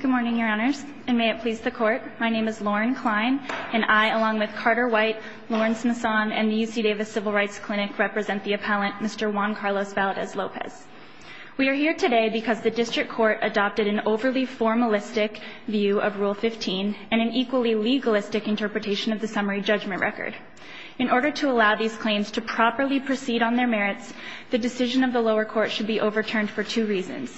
Good morning, Your Honors, and may it please the Court. My name is Lauren Klein, and I, along with Carter White, Lawrence Masson, and the UC Davis Civil Rights Clinic, represent the appellant, Mr. Juan Carlos Valadez Lopez. We are here today because the District Court adopted an overly formalistic view of Rule 15 and an equally legalistic interpretation of the summary judgment record. In order to allow these claims to properly proceed on their merits, the decision of the lower court should be overturned for two reasons.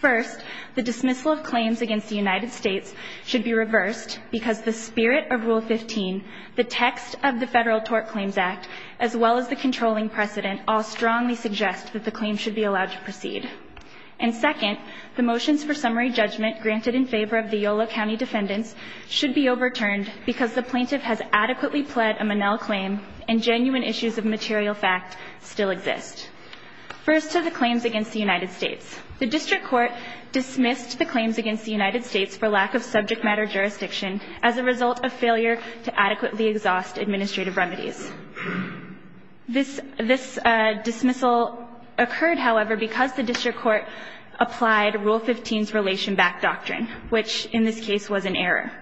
First, the dismissal of claims against the United States should be reversed because the spirit of Rule 15, the text of the Federal Tort Claims Act, as well as the controlling precedent all strongly suggest that the claim should be allowed to proceed. And second, the motions for summary judgment granted in favor of the Yolo County defendants should be overturned because the plaintiff has adequately pled a Monell claim and genuine issues of material fact still exist. First to the claims against the United States. The District Court dismissed the claims against the United States for lack of subject matter jurisdiction as a result of failure to adequately exhaust administrative remedies. This dismissal occurred, however, because the District Court applied Rule 15's relation-backed doctrine, which in this case was an error.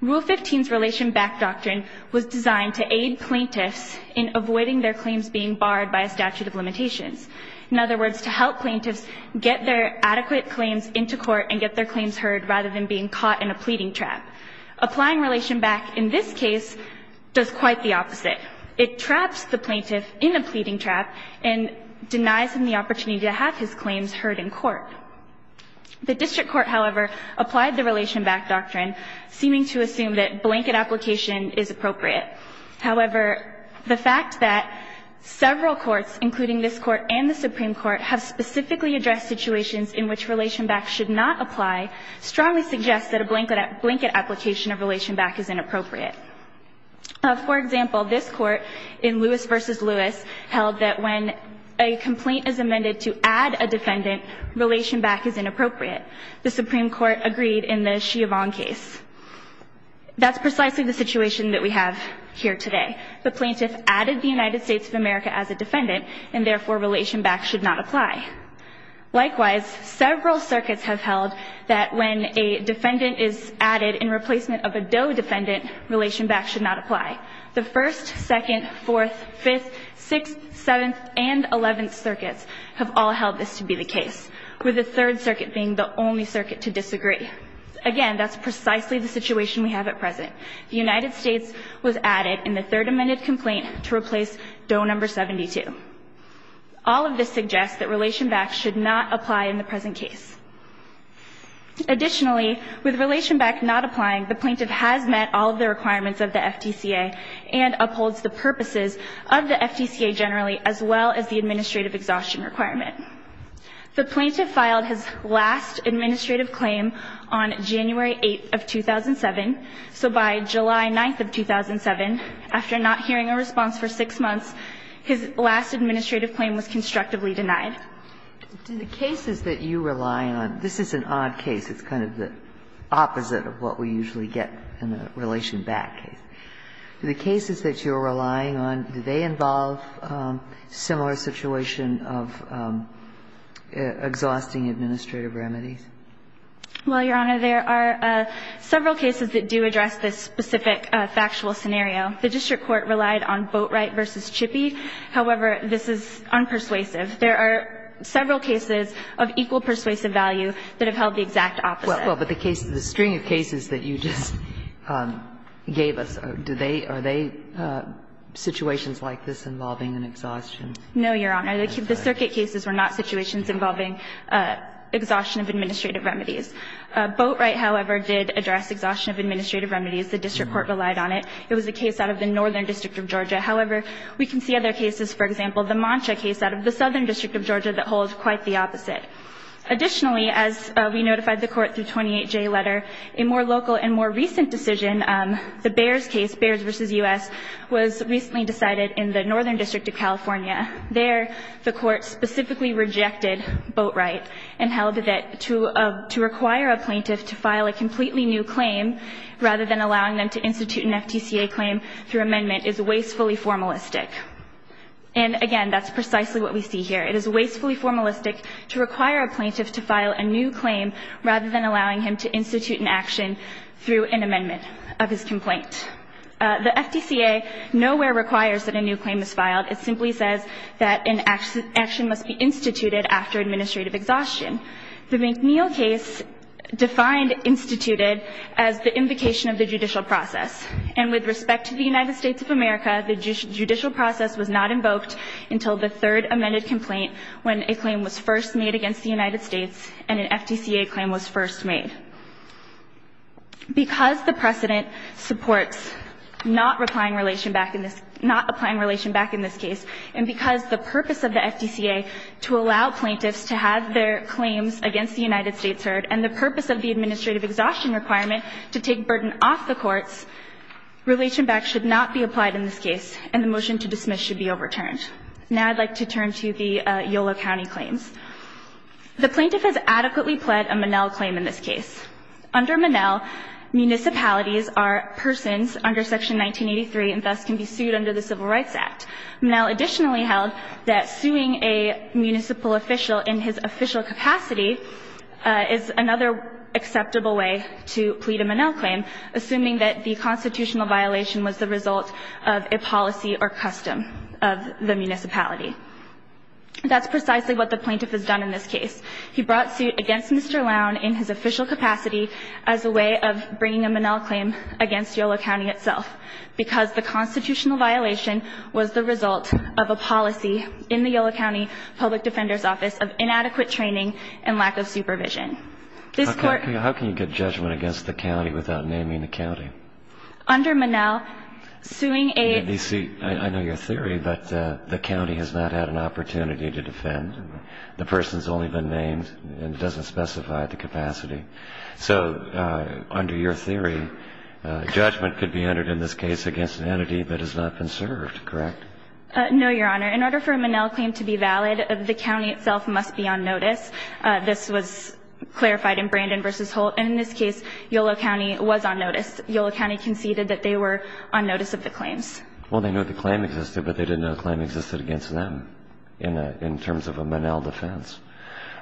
Rule 15's relation-backed doctrine was designed to aid plaintiffs in avoiding their claims being barred by a statute of limitations. In other words, to help plaintiffs get their adequate claims into court and get their claims heard rather than being caught in a pleading trap. Applying relation-back in this case does quite the opposite. It traps the plaintiff in a pleading trap and denies him the opportunity to have his claims heard in court. The District Court, however, applied the relation-backed doctrine, seeming to assume that blanket application is appropriate. However, the fact that several courts, including this court and the Supreme Court, have specifically addressed situations in which relation-back should not apply, strongly suggests that a blanket application of relation-back is inappropriate. For example, this court in Lewis v. Lewis held that when a complaint is amended to add a defendant, relation-back is inappropriate. The Supreme Court agreed in the Chiavon case. That's precisely the situation that we have here today. The plaintiff added the United States of America as a defendant, and therefore, relation-back should not apply. Likewise, several circuits have held that when a defendant is added in replacement of a DOE defendant, relation-back should not apply. The 1st, 2nd, 4th, 5th, 6th, 7th, and 11th circuits have all held this to be the case, with the 3rd circuit being the only circuit to disagree. Again, that's precisely the situation we have at present. The United States was added in the 3rd amended complaint to replace DOE number 72. All of this suggests that relation-back should not apply in the present case. Additionally, with relation-back not applying, the plaintiff has met all of the requirements of the FTCA and upholds the purposes of the FTCA generally, as well as the administrative exhaustion requirement. The plaintiff filed his last administrative claim on January 8th of 2007. So by July 9th of 2007, after not hearing a response for 6 months, his last administrative claim was constructively denied. Do the cases that you rely on – this is an odd case. It's kind of the opposite of what we usually get in the relation-back case. Do the cases that you're relying on, do they involve similar situation of exhausting administrative remedies? Well, Your Honor, there are several cases that do address this specific factual scenario. The district court relied on Boatwright v. Chippie. However, this is unpersuasive. There are several cases of equal persuasive value that have held the exact opposite. Well, but the case, the string of cases that you just gave us, do they, are they situations like this involving an exhaustion? No, Your Honor. The circuit cases were not situations involving exhaustion of administrative remedies. Boatwright, however, did address exhaustion of administrative remedies. The district court relied on it. It was a case out of the northern district of Georgia. However, we can see other cases, for example, the Mancha case out of the southern district of Georgia that holds quite the opposite. Additionally, as we notified the court through 28J letter, a more local and more recent decision, the Bears case, Bears v. U.S., was recently decided in the northern district of California. There, the court specifically rejected Boatwright and held that to require a plaintiff to file a completely new claim rather than allowing them to institute an FTCA claim through amendment is wastefully formalistic. And again, that's precisely what we see here. It is wastefully formalistic to require a plaintiff to file a new claim rather than allowing him to institute an action through an amendment of his complaint. The FTCA nowhere requires that a new claim is filed. It simply says that an action must be instituted after administrative exhaustion. The McNeil case defined instituted as the invocation of the judicial process. And with respect to the United States of America, the judicial process was not invoked until the third amended complaint when a claim was first made against the United States and an FTCA claim was first made. Because the precedent supports not applying relation back in this, and because the purpose of the FTCA to allow plaintiffs to have their claims against the United States heard, and the purpose of the administrative exhaustion requirement to take burden off the courts, relation back should not be applied in this case, and the motion to dismiss should be overturned. Now I'd like to turn to the Yolo County claims. The plaintiff has adequately pled a Monell claim in this case. Under Monell, municipalities are persons under Section 1983 and thus can be sued under the Civil Rights Act. Monell additionally held that suing a municipal official in his official capacity is another acceptable way to plead a Monell claim, assuming that the constitutional violation was the result of a policy or custom of the municipality. That's precisely what the plaintiff has done in this case. He brought suit against Mr. Lown in his official capacity as a way of bringing a Monell claim against Yolo County itself, because the constitutional violation was the result of a policy in the Yolo County Public Defender's Office of inadequate training and lack of supervision. This court- How can you get judgment against the county without naming the county? Under Monell, suing a- Let me see, I know your theory, but the county has not had an opportunity to defend. The person's only been named and doesn't specify the capacity. That is not conserved, correct? No, Your Honor. In order for a Monell claim to be valid, the county itself must be on notice. This was clarified in Brandon v. Holt. And in this case, Yolo County was on notice. Yolo County conceded that they were on notice of the claims. Well, they knew the claim existed, but they didn't know the claim existed against them in terms of a Monell defense.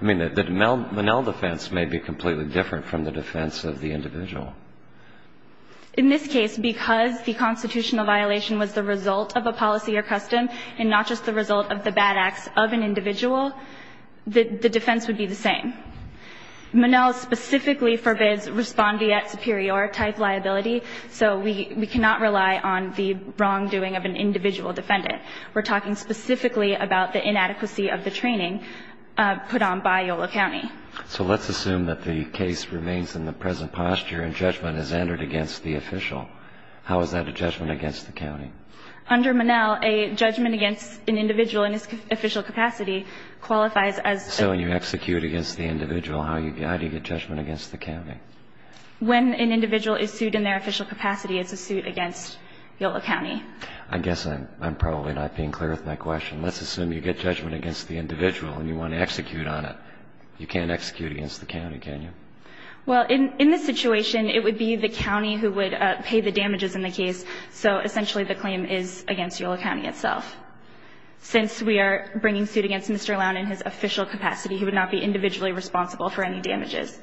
I mean, the Monell defense may be completely different from the defense of the individual. In this case, because the constitutional violation was the result of a policy or custom and not just the result of the bad acts of an individual, the defense would be the same. Monell specifically forbids respondeat superior type liability, so we cannot rely on the wrongdoing of an individual defendant. We're talking specifically about the inadequacy of the training put on by Yolo County. So let's assume that the case remains in the present posture and judgment is entered against the official. How is that a judgment against the county? Under Monell, a judgment against an individual in his official capacity qualifies as a... So when you execute against the individual, how do you get judgment against the county? When an individual is sued in their official capacity, it's a suit against Yolo County. I guess I'm probably not being clear with my question. Let's assume you get judgment against the individual and you want to execute on it. You can't execute against the county, can you? Well, in this situation, it would be the county who would pay the damages in the case. So essentially, the claim is against Yolo County itself. Since we are bringing suit against Mr. Lown in his official capacity, he would not be individually responsible for any damages.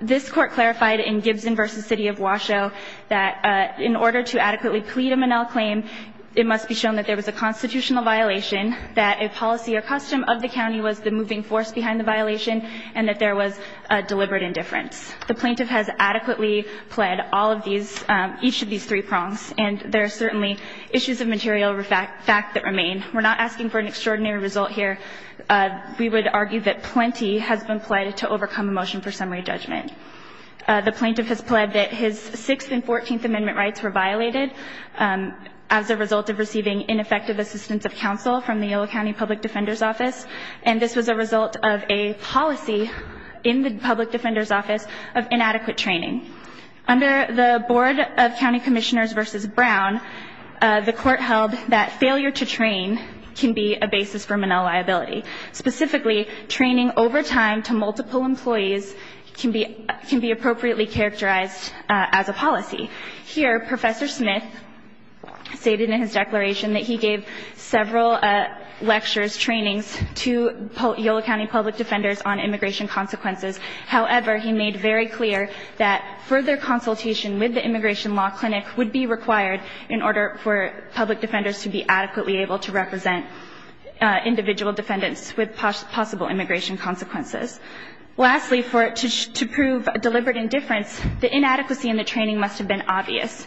This court clarified in Gibson versus City of Washoe that in order to adequately plead a Monell claim, it must be shown that there was a constitutional violation, that a policy or custom of the county was the moving force behind the violation, and that there was a deliberate indifference. The plaintiff has adequately pled each of these three prongs, and there are certainly issues of material fact that remain. We're not asking for an extraordinary result here. We would argue that plenty has been pled to overcome a motion for summary judgment. The plaintiff has pled that his Sixth and Fourteenth Amendment rights were violated. As a result of receiving ineffective assistance of counsel from the Yolo County Public Defender's Office. And this was a result of a policy in the Public Defender's Office of inadequate training. Under the Board of County Commissioners versus Brown, the court held that failure to train can be a basis for Monell liability. Specifically, training over time to multiple employees can be appropriately characterized as a policy. Here, Professor Smith stated in his declaration that he gave several lectures, trainings to Yolo County public defenders on immigration consequences. However, he made very clear that further consultation with the Immigration Law Clinic would be required in order for public defenders to be adequately able to represent individual defendants with possible immigration consequences. Lastly, to prove deliberate indifference, the inadequacy in the training must have been obvious.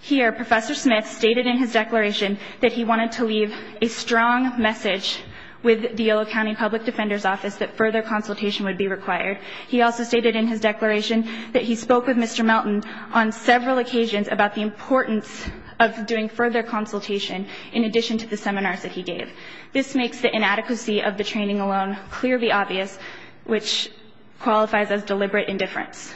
Here, Professor Smith stated in his declaration that he wanted to leave a strong message with the Yolo County Public Defender's Office that further consultation would be required. He also stated in his declaration that he spoke with Mr. Melton on several occasions about the importance of doing further consultation in addition to the seminars that he gave. This makes the inadequacy of the training alone clearly obvious, which qualifies as deliberate indifference.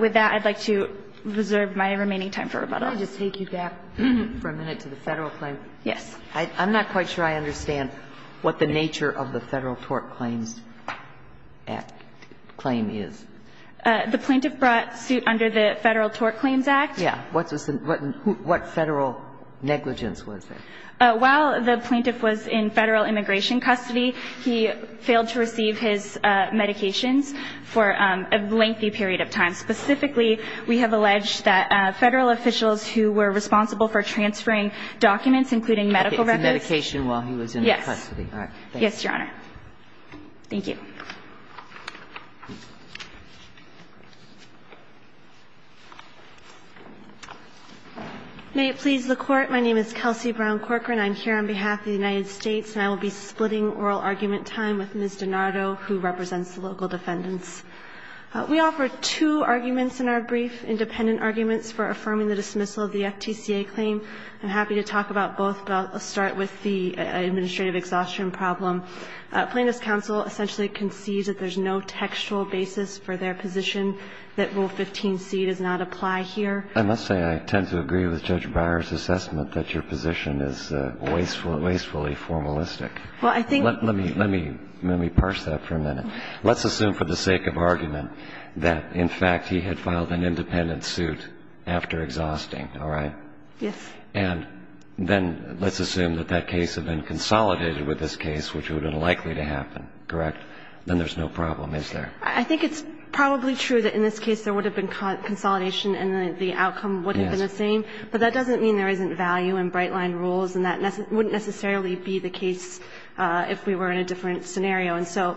With that, I'd like to reserve my remaining time for rebuttal. Can I just take you back for a minute to the Federal claim? Yes. I'm not quite sure I understand what the nature of the Federal Tort Claims Act claim is. The plaintiff brought suit under the Federal Tort Claims Act. Yeah. What was the what Federal negligence was there? While the plaintiff was in Federal immigration custody, he failed to receive his medications for a lengthy period of time. Specifically, we have alleged that Federal officials who were responsible for transferring documents, including medical records. Okay, he was on medication while he was in custody. Yes. All right. Yes, Your Honor. Thank you. May it please the Court. My name is Kelsey Brown Corcoran. I'm here on behalf of the United States, and I will be splitting oral argument time with Ms. Donato, who represents the local defendants. We offer two arguments in our brief, independent arguments for affirming the dismissal of the FTCA claim. I'm happy to talk about both, but I'll start with the administrative exhaustion problem. Plaintiff's counsel essentially concedes that there's no textual basis for their position that Rule 15c does not apply here. I must say, I tend to agree with Judge Breyer's assessment that your position is wastefully formalistic. Well, I think. Let me parse that for a minute. Let's assume for the sake of argument that, in fact, he had filed an independent suit after exhausting, all right? Yes. And then let's assume that that case had been consolidated with this case, which would have been likely to happen, correct? Then there's no problem, is there? I think it's probably true that in this case there would have been consolidation and the outcome would have been the same. But that doesn't mean there isn't value in bright-line rules, and that wouldn't necessarily be the case if we were in a different scenario. And so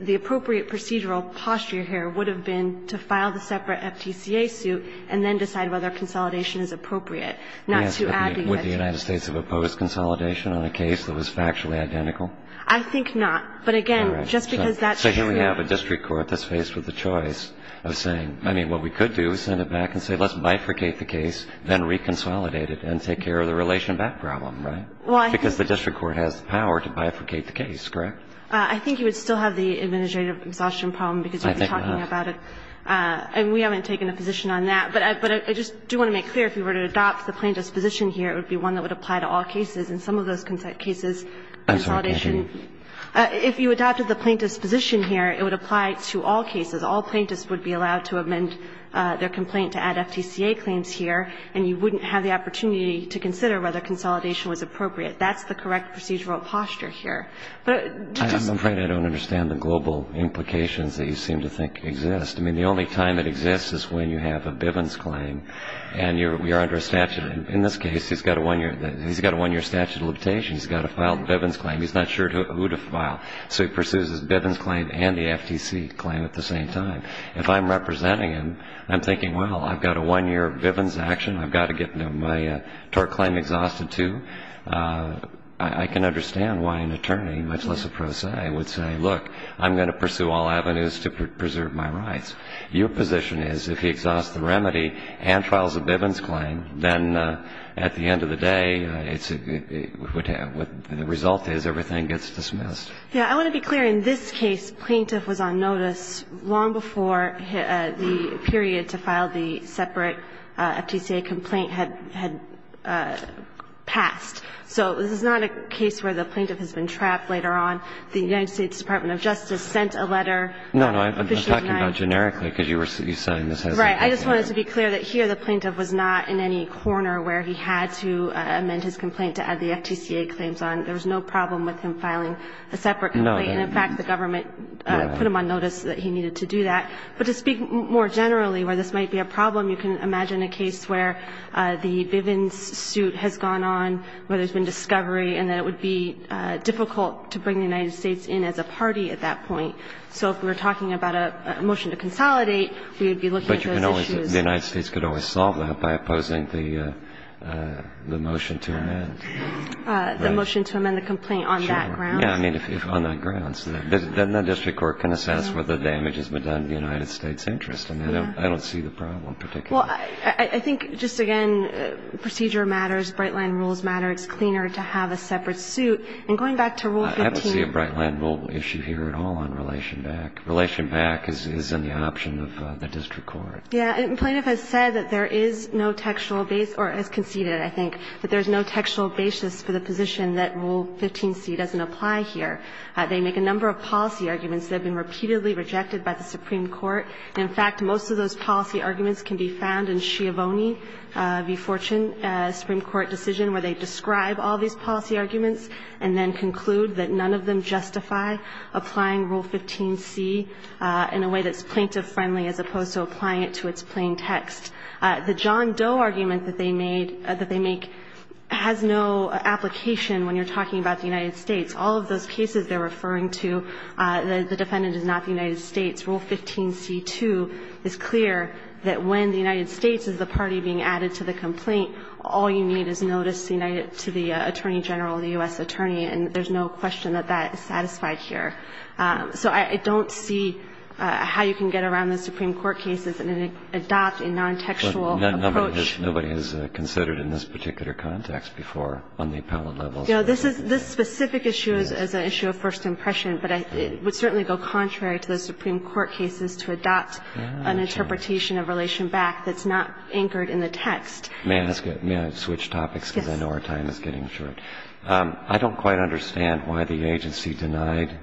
the appropriate procedural posture here would have been to file the separate FTCA suit and then decide whether consolidation is appropriate, not to add to that. Would the United States have opposed consolidation on a case that was factually identical? I think not. But, again, just because that's true. So here we have a district court that's faced with the choice of saying, I mean, what we could do is send it back and say, let's bifurcate the case, then reconsolidate it and take care of the relation back problem, right? Why? Because the district court has the power to bifurcate the case, correct? I think you would still have the administrative exhaustion problem because you're talking about it. I think not. And we haven't taken a position on that. But I just do want to make clear, if you were to adopt the plaintiff's position here, it would be one that would apply to all cases. In some of those cases, consolidation If you adopted the plaintiff's position here, it would apply to all cases. All plaintiffs would be allowed to amend their complaint to add FTCA claims here, and you wouldn't have the opportunity to consider whether consolidation was appropriate. That's the correct procedural posture here. I'm afraid I don't understand the global implications that you seem to think exist. I mean, the only time it exists is when you have a Bivens claim and you're under a statute. In this case, he's got a one-year statute of limitations. He's got to file the Bivens claim. He's not sure who to file. So he pursues his Bivens claim and the FTC claim at the same time. If I'm representing him, I'm thinking, well, I've got a one-year Bivens action. I've got to get my tort claim exhausted, too. I can understand why an attorney, much less a pro se, would say, look, I'm going to pursue all avenues to preserve my rights. Your position is if he exhausts the remedy and files a Bivens claim, then at the end of the day, it's what the result is, everything gets dismissed. Yeah. I want to be clear. In this case, plaintiff was on notice long before the period to file the separate FTCA complaint had passed. So this is not a case where the plaintiff has been trapped later on. The United States Department of Justice sent a letter. No, no, I'm talking about generically, because you were saying this hasn't been clear. Right. I just wanted to be clear that here the plaintiff was not in any corner where he had to amend his complaint to add the FTCA claims on. There was no problem with him filing a separate complaint. And in fact, the government put him on notice that he needed to do that. But to speak more generally where this might be a problem, you can imagine a case where the Bivens suit has gone on, where there's been discovery, and that it would be difficult to bring the United States in as a party at that point. So if we're talking about a motion to consolidate, we would be looking at those issues. But the United States could always solve that by opposing the motion to amend. The motion to amend the complaint on that ground. Sure. Yeah, I mean, if on that ground. So then the district court can assess whether the damage has been done in the United States' interest. And I don't see the problem particularly. Well, I think just again, procedure matters, bright-line rules matter. It's cleaner to have a separate suit. And going back to Rule 15. I don't see a bright-line rule issue here at all on Relation Back. Relation Back is in the option of the district court. Yeah. And the plaintiff has said that there is no textual base, or has conceded, I think, that there is no textual basis for the position that Rule 15c doesn't apply here. They make a number of policy arguments that have been repeatedly rejected by the Supreme Court. In fact, most of those policy arguments can be found in Schiavone v. Fortune, a Supreme Court decision where they describe all these policy arguments and then conclude that none of them justify applying Rule 15c in a way that's plaintiff-friendly as opposed to applying it to its plain text. The John Doe argument that they made or that they make has no application when you're talking about the United States. All of those cases they're referring to, the defendant is not the United States. Rule 15c-2 is clear that when the United States is the party being added to the complaint, all you need is notice to the Attorney General or the U.S. Attorney, and there's no question that that is satisfied here. So I don't see how you can get around the Supreme Court cases and adopt a non-textual approach. Nobody has considered in this particular context before on the appellate level. This specific issue is an issue of first impression, but it would certainly go contrary to the Supreme Court cases to adopt an interpretation of relation back that's not anchored in the text. May I switch topics? Yes. Because I know our time is getting short. I don't quite understand why the agency denied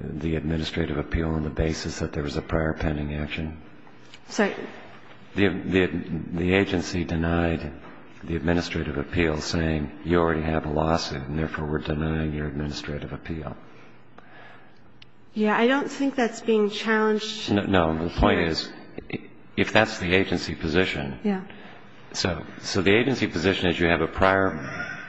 the administrative appeal on the basis that there was a prior pending action. Sorry? The agency denied the administrative appeal saying you already have a lawsuit and therefore we're denying your administrative appeal. Yeah. I don't think that's being challenged. No. The point is if that's the agency position. Yeah. So the agency position is you have a prior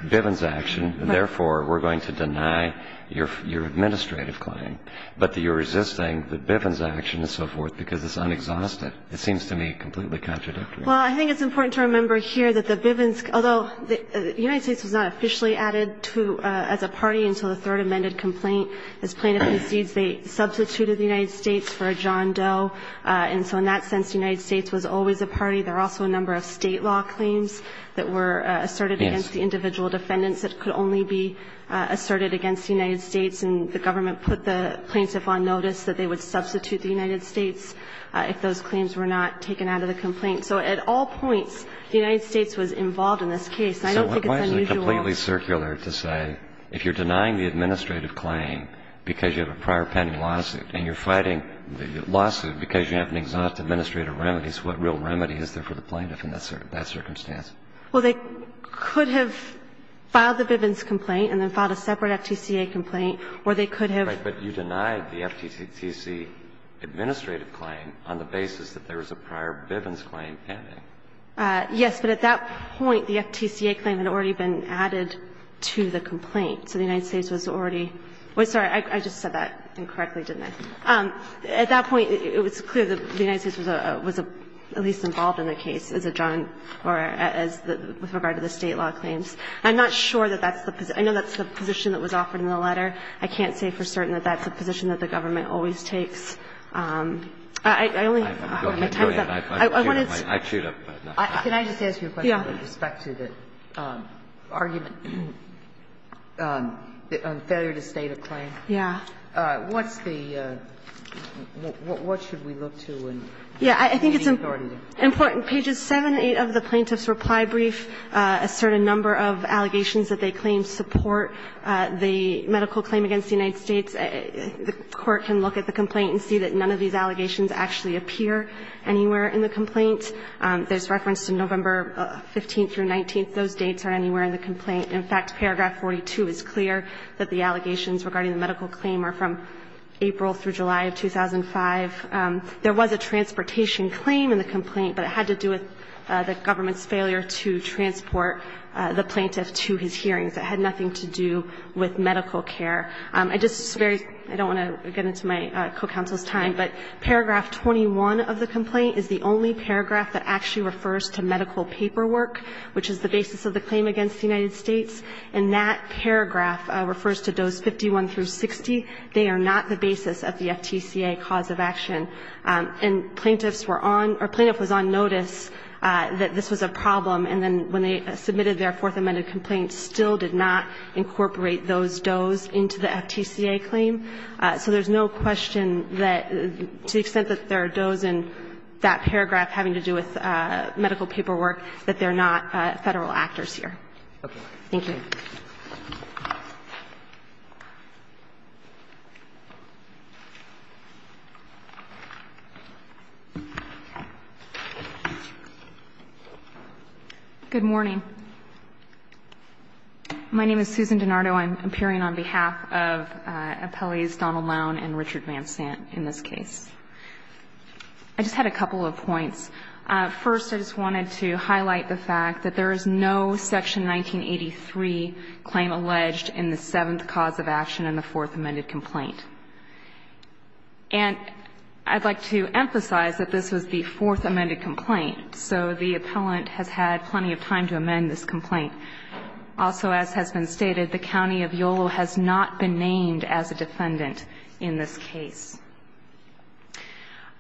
Bivens action and therefore we're going to deny your administrative claim, but you're resisting the Bivens action and so forth because it's unexhausted. It seems to me completely contradictory. Well, I think it's important to remember here that the Bivens, although the United States was not officially added to as a party until the third amended complaint. As plaintiff concedes, they substituted the United States for a John Doe, and so in that sense, the United States was always a party. There were also a number of State law claims that were asserted against the individual defendants that could only be asserted against the United States, and the government put the plaintiff on notice that they would substitute the United States if those claims were not taken out of the complaint. So at all points, the United States was involved in this case. So why is it completely circular to say if you're denying the administrative claim because you have a prior pending lawsuit and you're fighting the lawsuit because you have an exhaustive administrative remedy, so what real remedy is there for the plaintiff in that circumstance? Well, they could have filed the Bivens complaint and then filed a separate FTCA complaint, or they could have. Right, but you denied the FTCC administrative claim on the basis that there was a prior Bivens claim pending. Yes, but at that point, the FTCA claim had already been added to the complaint, so the United States was already – sorry, I just said that incorrectly, didn't I? At that point, it was clear that the United States was at least involved in the case as a John or as the – with regard to the State law claims. I'm not sure that that's the – I know that's the position that was offered in the letter. I can't say for certain that that's the position that the government always takes. I only have my time's up. I wanted to – Can I just ask you a question with respect to the argument, failure to state a claim? Yeah. What's the – what should we look to in gaining authority? Yeah, I think it's important. On pages 7 and 8 of the Plaintiff's Reply Brief, a certain number of allegations that they claim support the medical claim against the United States. The Court can look at the complaint and see that none of these allegations actually appear anywhere in the complaint. There's reference to November 15th through 19th. Those dates aren't anywhere in the complaint. In fact, paragraph 42 is clear that the allegations regarding the medical claim are from April through July of 2005. There was a transportation claim in the complaint, but it had to do with the government's failure to transport the plaintiff to his hearings. It had nothing to do with medical care. I just – I don't want to get into my co-counsel's time, but paragraph 21 of the complaint is the only paragraph that actually refers to medical paperwork, which is the basis of the claim against the United States. And that paragraph refers to dose 51 through 60. They are not the basis of the FTCA cause of action. And plaintiffs were on – or plaintiff was on notice that this was a problem, and then when they submitted their Fourth Amendment complaint, still did not incorporate those dose into the FTCA claim. So there's no question that – to the extent that there are dose in that paragraph having to do with medical paperwork, that they're not Federal actors here. Thank you. Good morning. My name is Susan DiNardo. I'm appearing on behalf of Appellees Donald Lowne and Richard Van Sant in this case. First, I just wanted to highlight the fact that there is no Section 1983 claim alleged in the seventh cause of action in the Fourth Amendment complaint. And I'd like to emphasize that this was the Fourth Amendment complaint, so the appellant has had plenty of time to amend this complaint. Also, as has been stated, the county of Yolo has not been named as a defendant in this case.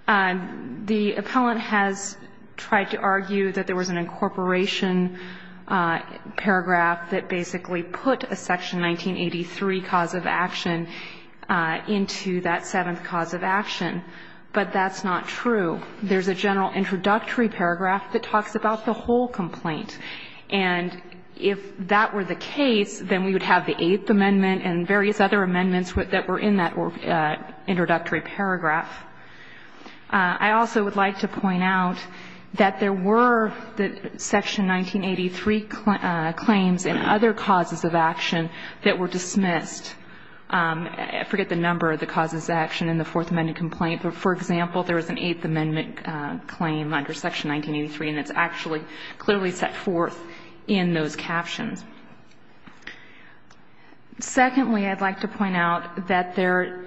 The appellant has tried to argue that there was an incorporation paragraph that basically put a Section 1983 cause of action into that seventh cause of action, but that's not true. There's a general introductory paragraph that talks about the whole complaint. And if that were the case, then we would have the Eighth Amendment and various other amendments that were in that introductory paragraph. I also would like to point out that there were Section 1983 claims and other causes of action that were dismissed. I forget the number of the causes of action in the Fourth Amendment complaint, but for example, there was an Eighth Amendment claim under Section 1983, and it's actually clearly set forth in those captions. Secondly, I'd like to point out that there,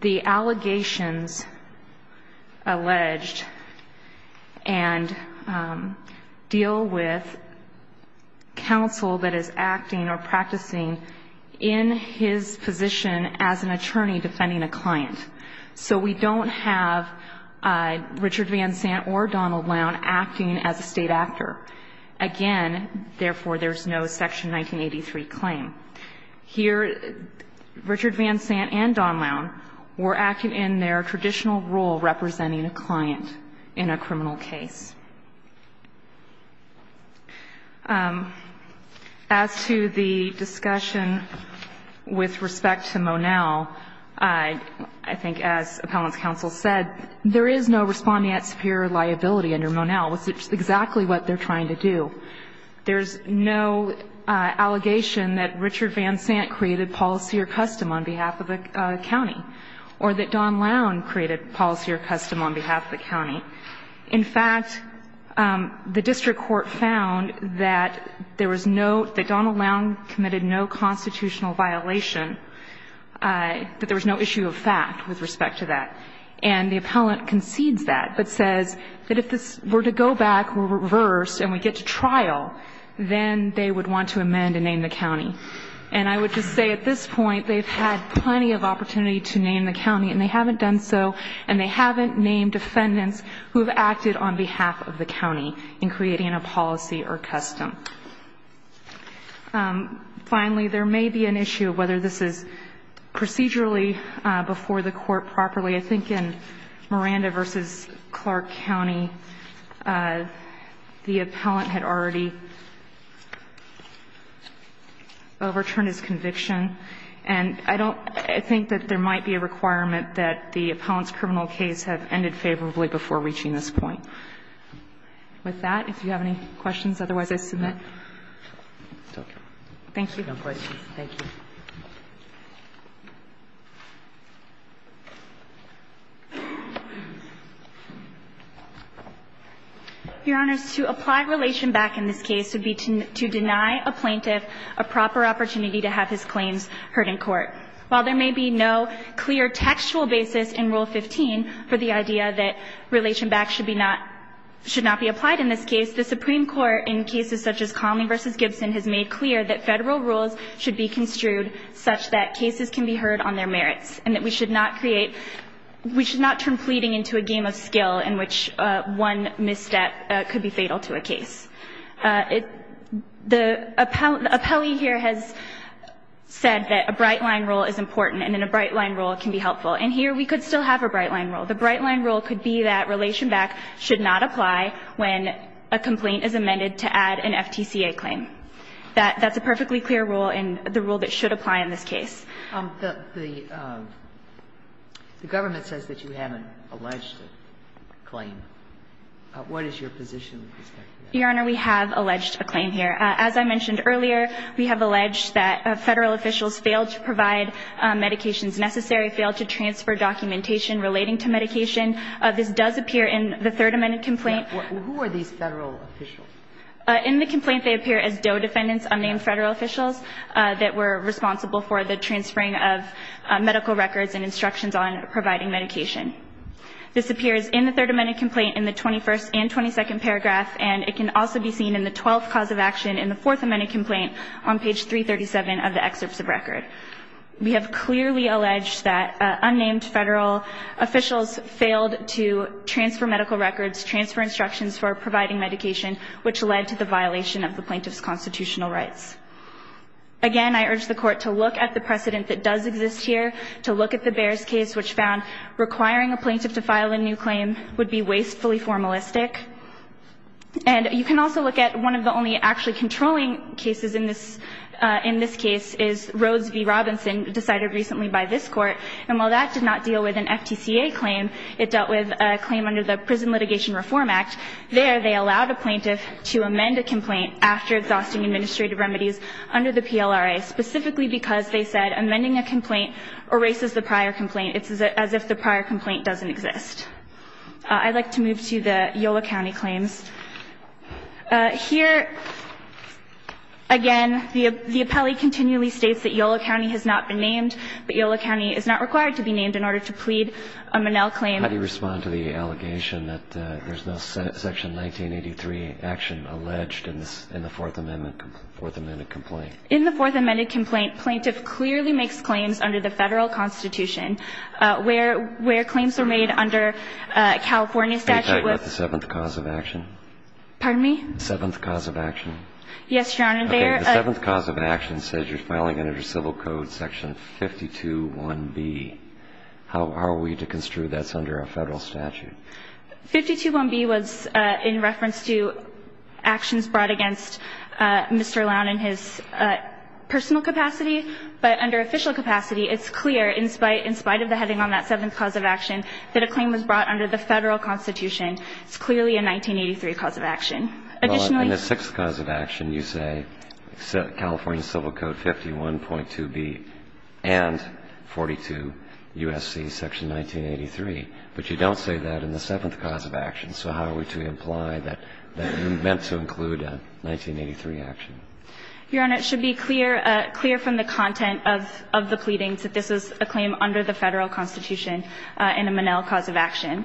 the allegations alleged and deal with counsel that is acting or practicing in his position as an attorney defending a client. So we don't have Richard Van Sant or Donald Lowne acting as a state actor. Again, therefore, there's no Section 1983 claim. Here, Richard Van Sant and Donald Lowne were acting in their traditional role representing a client in a criminal case. As to the discussion with respect to Monell, I think as Appellant's counsel said, there is no respondeat superior liability under Monell, which is exactly what they're trying to do. There's no allegation that Richard Van Sant created policy or custom on behalf of a county or that Donald Lowne created policy or custom on behalf of a county. In fact, the district court found that there was no, that Donald Lowne committed no constitutional violation, that there was no issue of fact with respect to that. And the Appellant concedes that, but says that if this were to go back, were reversed, and we get to trial, then they would want to amend and name the county. And I would just say at this point, they've had plenty of opportunity to name the county, and they haven't done so, and they haven't named defendants who have acted on behalf of the county in creating a policy or custom. Finally, there may be an issue of whether this is procedurally before the court has made a decision, and whether it's procedurally before the court has made a decision think it's procedurally before the court has made a decision on whether to do so. I think in Miranda v. Clark County, the Appellant had already overturned this conviction, and I don't think that there might be a requirement that the Appellant's criminal case have ended favorably before reaching this point. With that, if you have any questions, otherwise I submit. Thank you. Roberts. Thank you. Your Honors, to apply relation back in this case would be to deny a plaintiff a proper opportunity to have his claims heard in court. While there may be no clear textual basis in Rule 15 for the idea that relation back should be not, should not be applied in this case, the Supreme Court, in cases such as Conley v. Gibson, has made clear that Federal rules should be construed such that cases can be heard on their merits, and that we should not create, we should not turn pleading into a game of skill in which one misstep could be fatal to a case. The appellee here has said that a bright-line rule is important, and in a bright-line rule it can be helpful. And here we could still have a bright-line rule. The bright-line rule could be that relation back should not apply when a complaint is amended to add an FTCA claim. That's a perfectly clear rule and the rule that should apply in this case. The Government says that you haven't alleged a claim. What is your position with respect to that? Your Honor, we have alleged a claim here. As I mentioned earlier, we have alleged that Federal officials failed to provide medications necessary, failed to transfer documentation relating to medication. This does appear in the Third Amendment complaint. Who are these Federal officials? In the complaint, they appear as DOE defendants, unnamed Federal officials, that were responsible for the transferring of medical records and instructions on providing medication. This appears in the Third Amendment complaint in the 21st and 22nd paragraph, and it can also be seen in the 12th cause of action in the Fourth Amendment complaint on page 337 of the excerpts of record. We have clearly alleged that unnamed Federal officials failed to transfer medical records, transfer instructions for providing medication, which led to the violation of the plaintiff's constitutional rights. Again, I urge the Court to look at the precedent that does exist here, to look at the Bears case, which found requiring a plaintiff to file a new claim would be And you can also look at one of the only actually controlling cases in this case is Rhodes v. Robinson, decided recently by this Court. And while that did not deal with an FTCA claim, it dealt with a claim under the Prison Litigation Reform Act. There, they allowed a plaintiff to amend a complaint after exhausting administrative remedies under the PLRA, specifically because they said amending a complaint erases the prior complaint. It's as if the prior complaint doesn't exist. I'd like to move to the Yolo County claims. Here, again, the appellee continually states that Yolo County has not been named, but Yolo County is not required to be named in order to plead a Monell claim. How do you respond to the allegation that there's no section 1983 action alleged in the Fourth Amendment complaint? In the Fourth Amendment complaint, plaintiff clearly makes claims under the Federal Constitution, where claims are made under California statute. Can you tell me about the Seventh Cause of Action? Pardon me? The Seventh Cause of Action. Yes, Your Honor. The Seventh Cause of Action says you're filing under Civil Code section 521B. How are we to construe that's under a Federal statute? 521B was in reference to actions brought against Mr. Lown in his personal capacity. But under official capacity, it's clear, in spite of the heading on that Seventh Cause of Action, that a claim was brought under the Federal Constitution. It's clearly a 1983 cause of action. Additionally In the Sixth Cause of Action, you say California Civil Code 51.2B and 42 U.S.C. section 1983, but you don't say that in the Seventh Cause of Action. So how are we to imply that you meant to include a 1983 action? Your Honor, it should be clear from the content of the pleadings that this is a claim under the Federal Constitution and a Monell cause of action.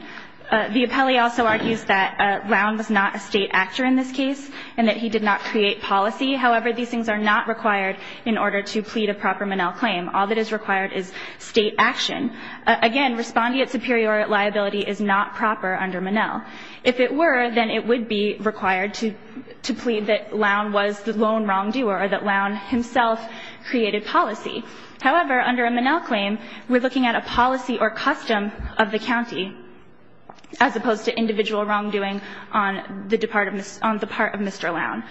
The appellee also argues that Lown was not a state actor in this case and that he did not create policy. However, these things are not required in order to plead a proper Monell claim. All that is required is state action. Again, respondeat superior liability is not proper under Monell. If it were, then it would be required to plead that Lown was the lone wrongdoer or that Lown himself created policy. However, under a Monell claim, we're looking at a policy or custom of the county as opposed to individual wrongdoing on the part of Mr. Lown.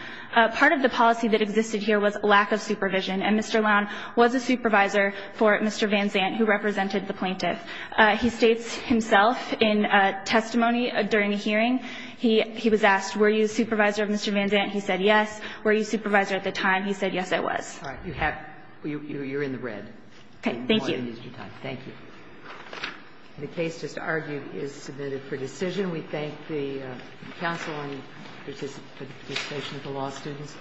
Part of the policy that existed here was lack of supervision, and Mr. Lown was a supervisor for Mr. Van Zandt, who represented the plaintiff. He states himself in testimony during the hearing. He was asked, were you a supervisor of Mr. Van Zandt? He said yes. Were you a supervisor at the time? He said yes, I was. All right, you have, you're in the red. Okay, thank you. Thank you. The case, just to argue, is submitted for decision. We thank the counsel and the participation of the law students.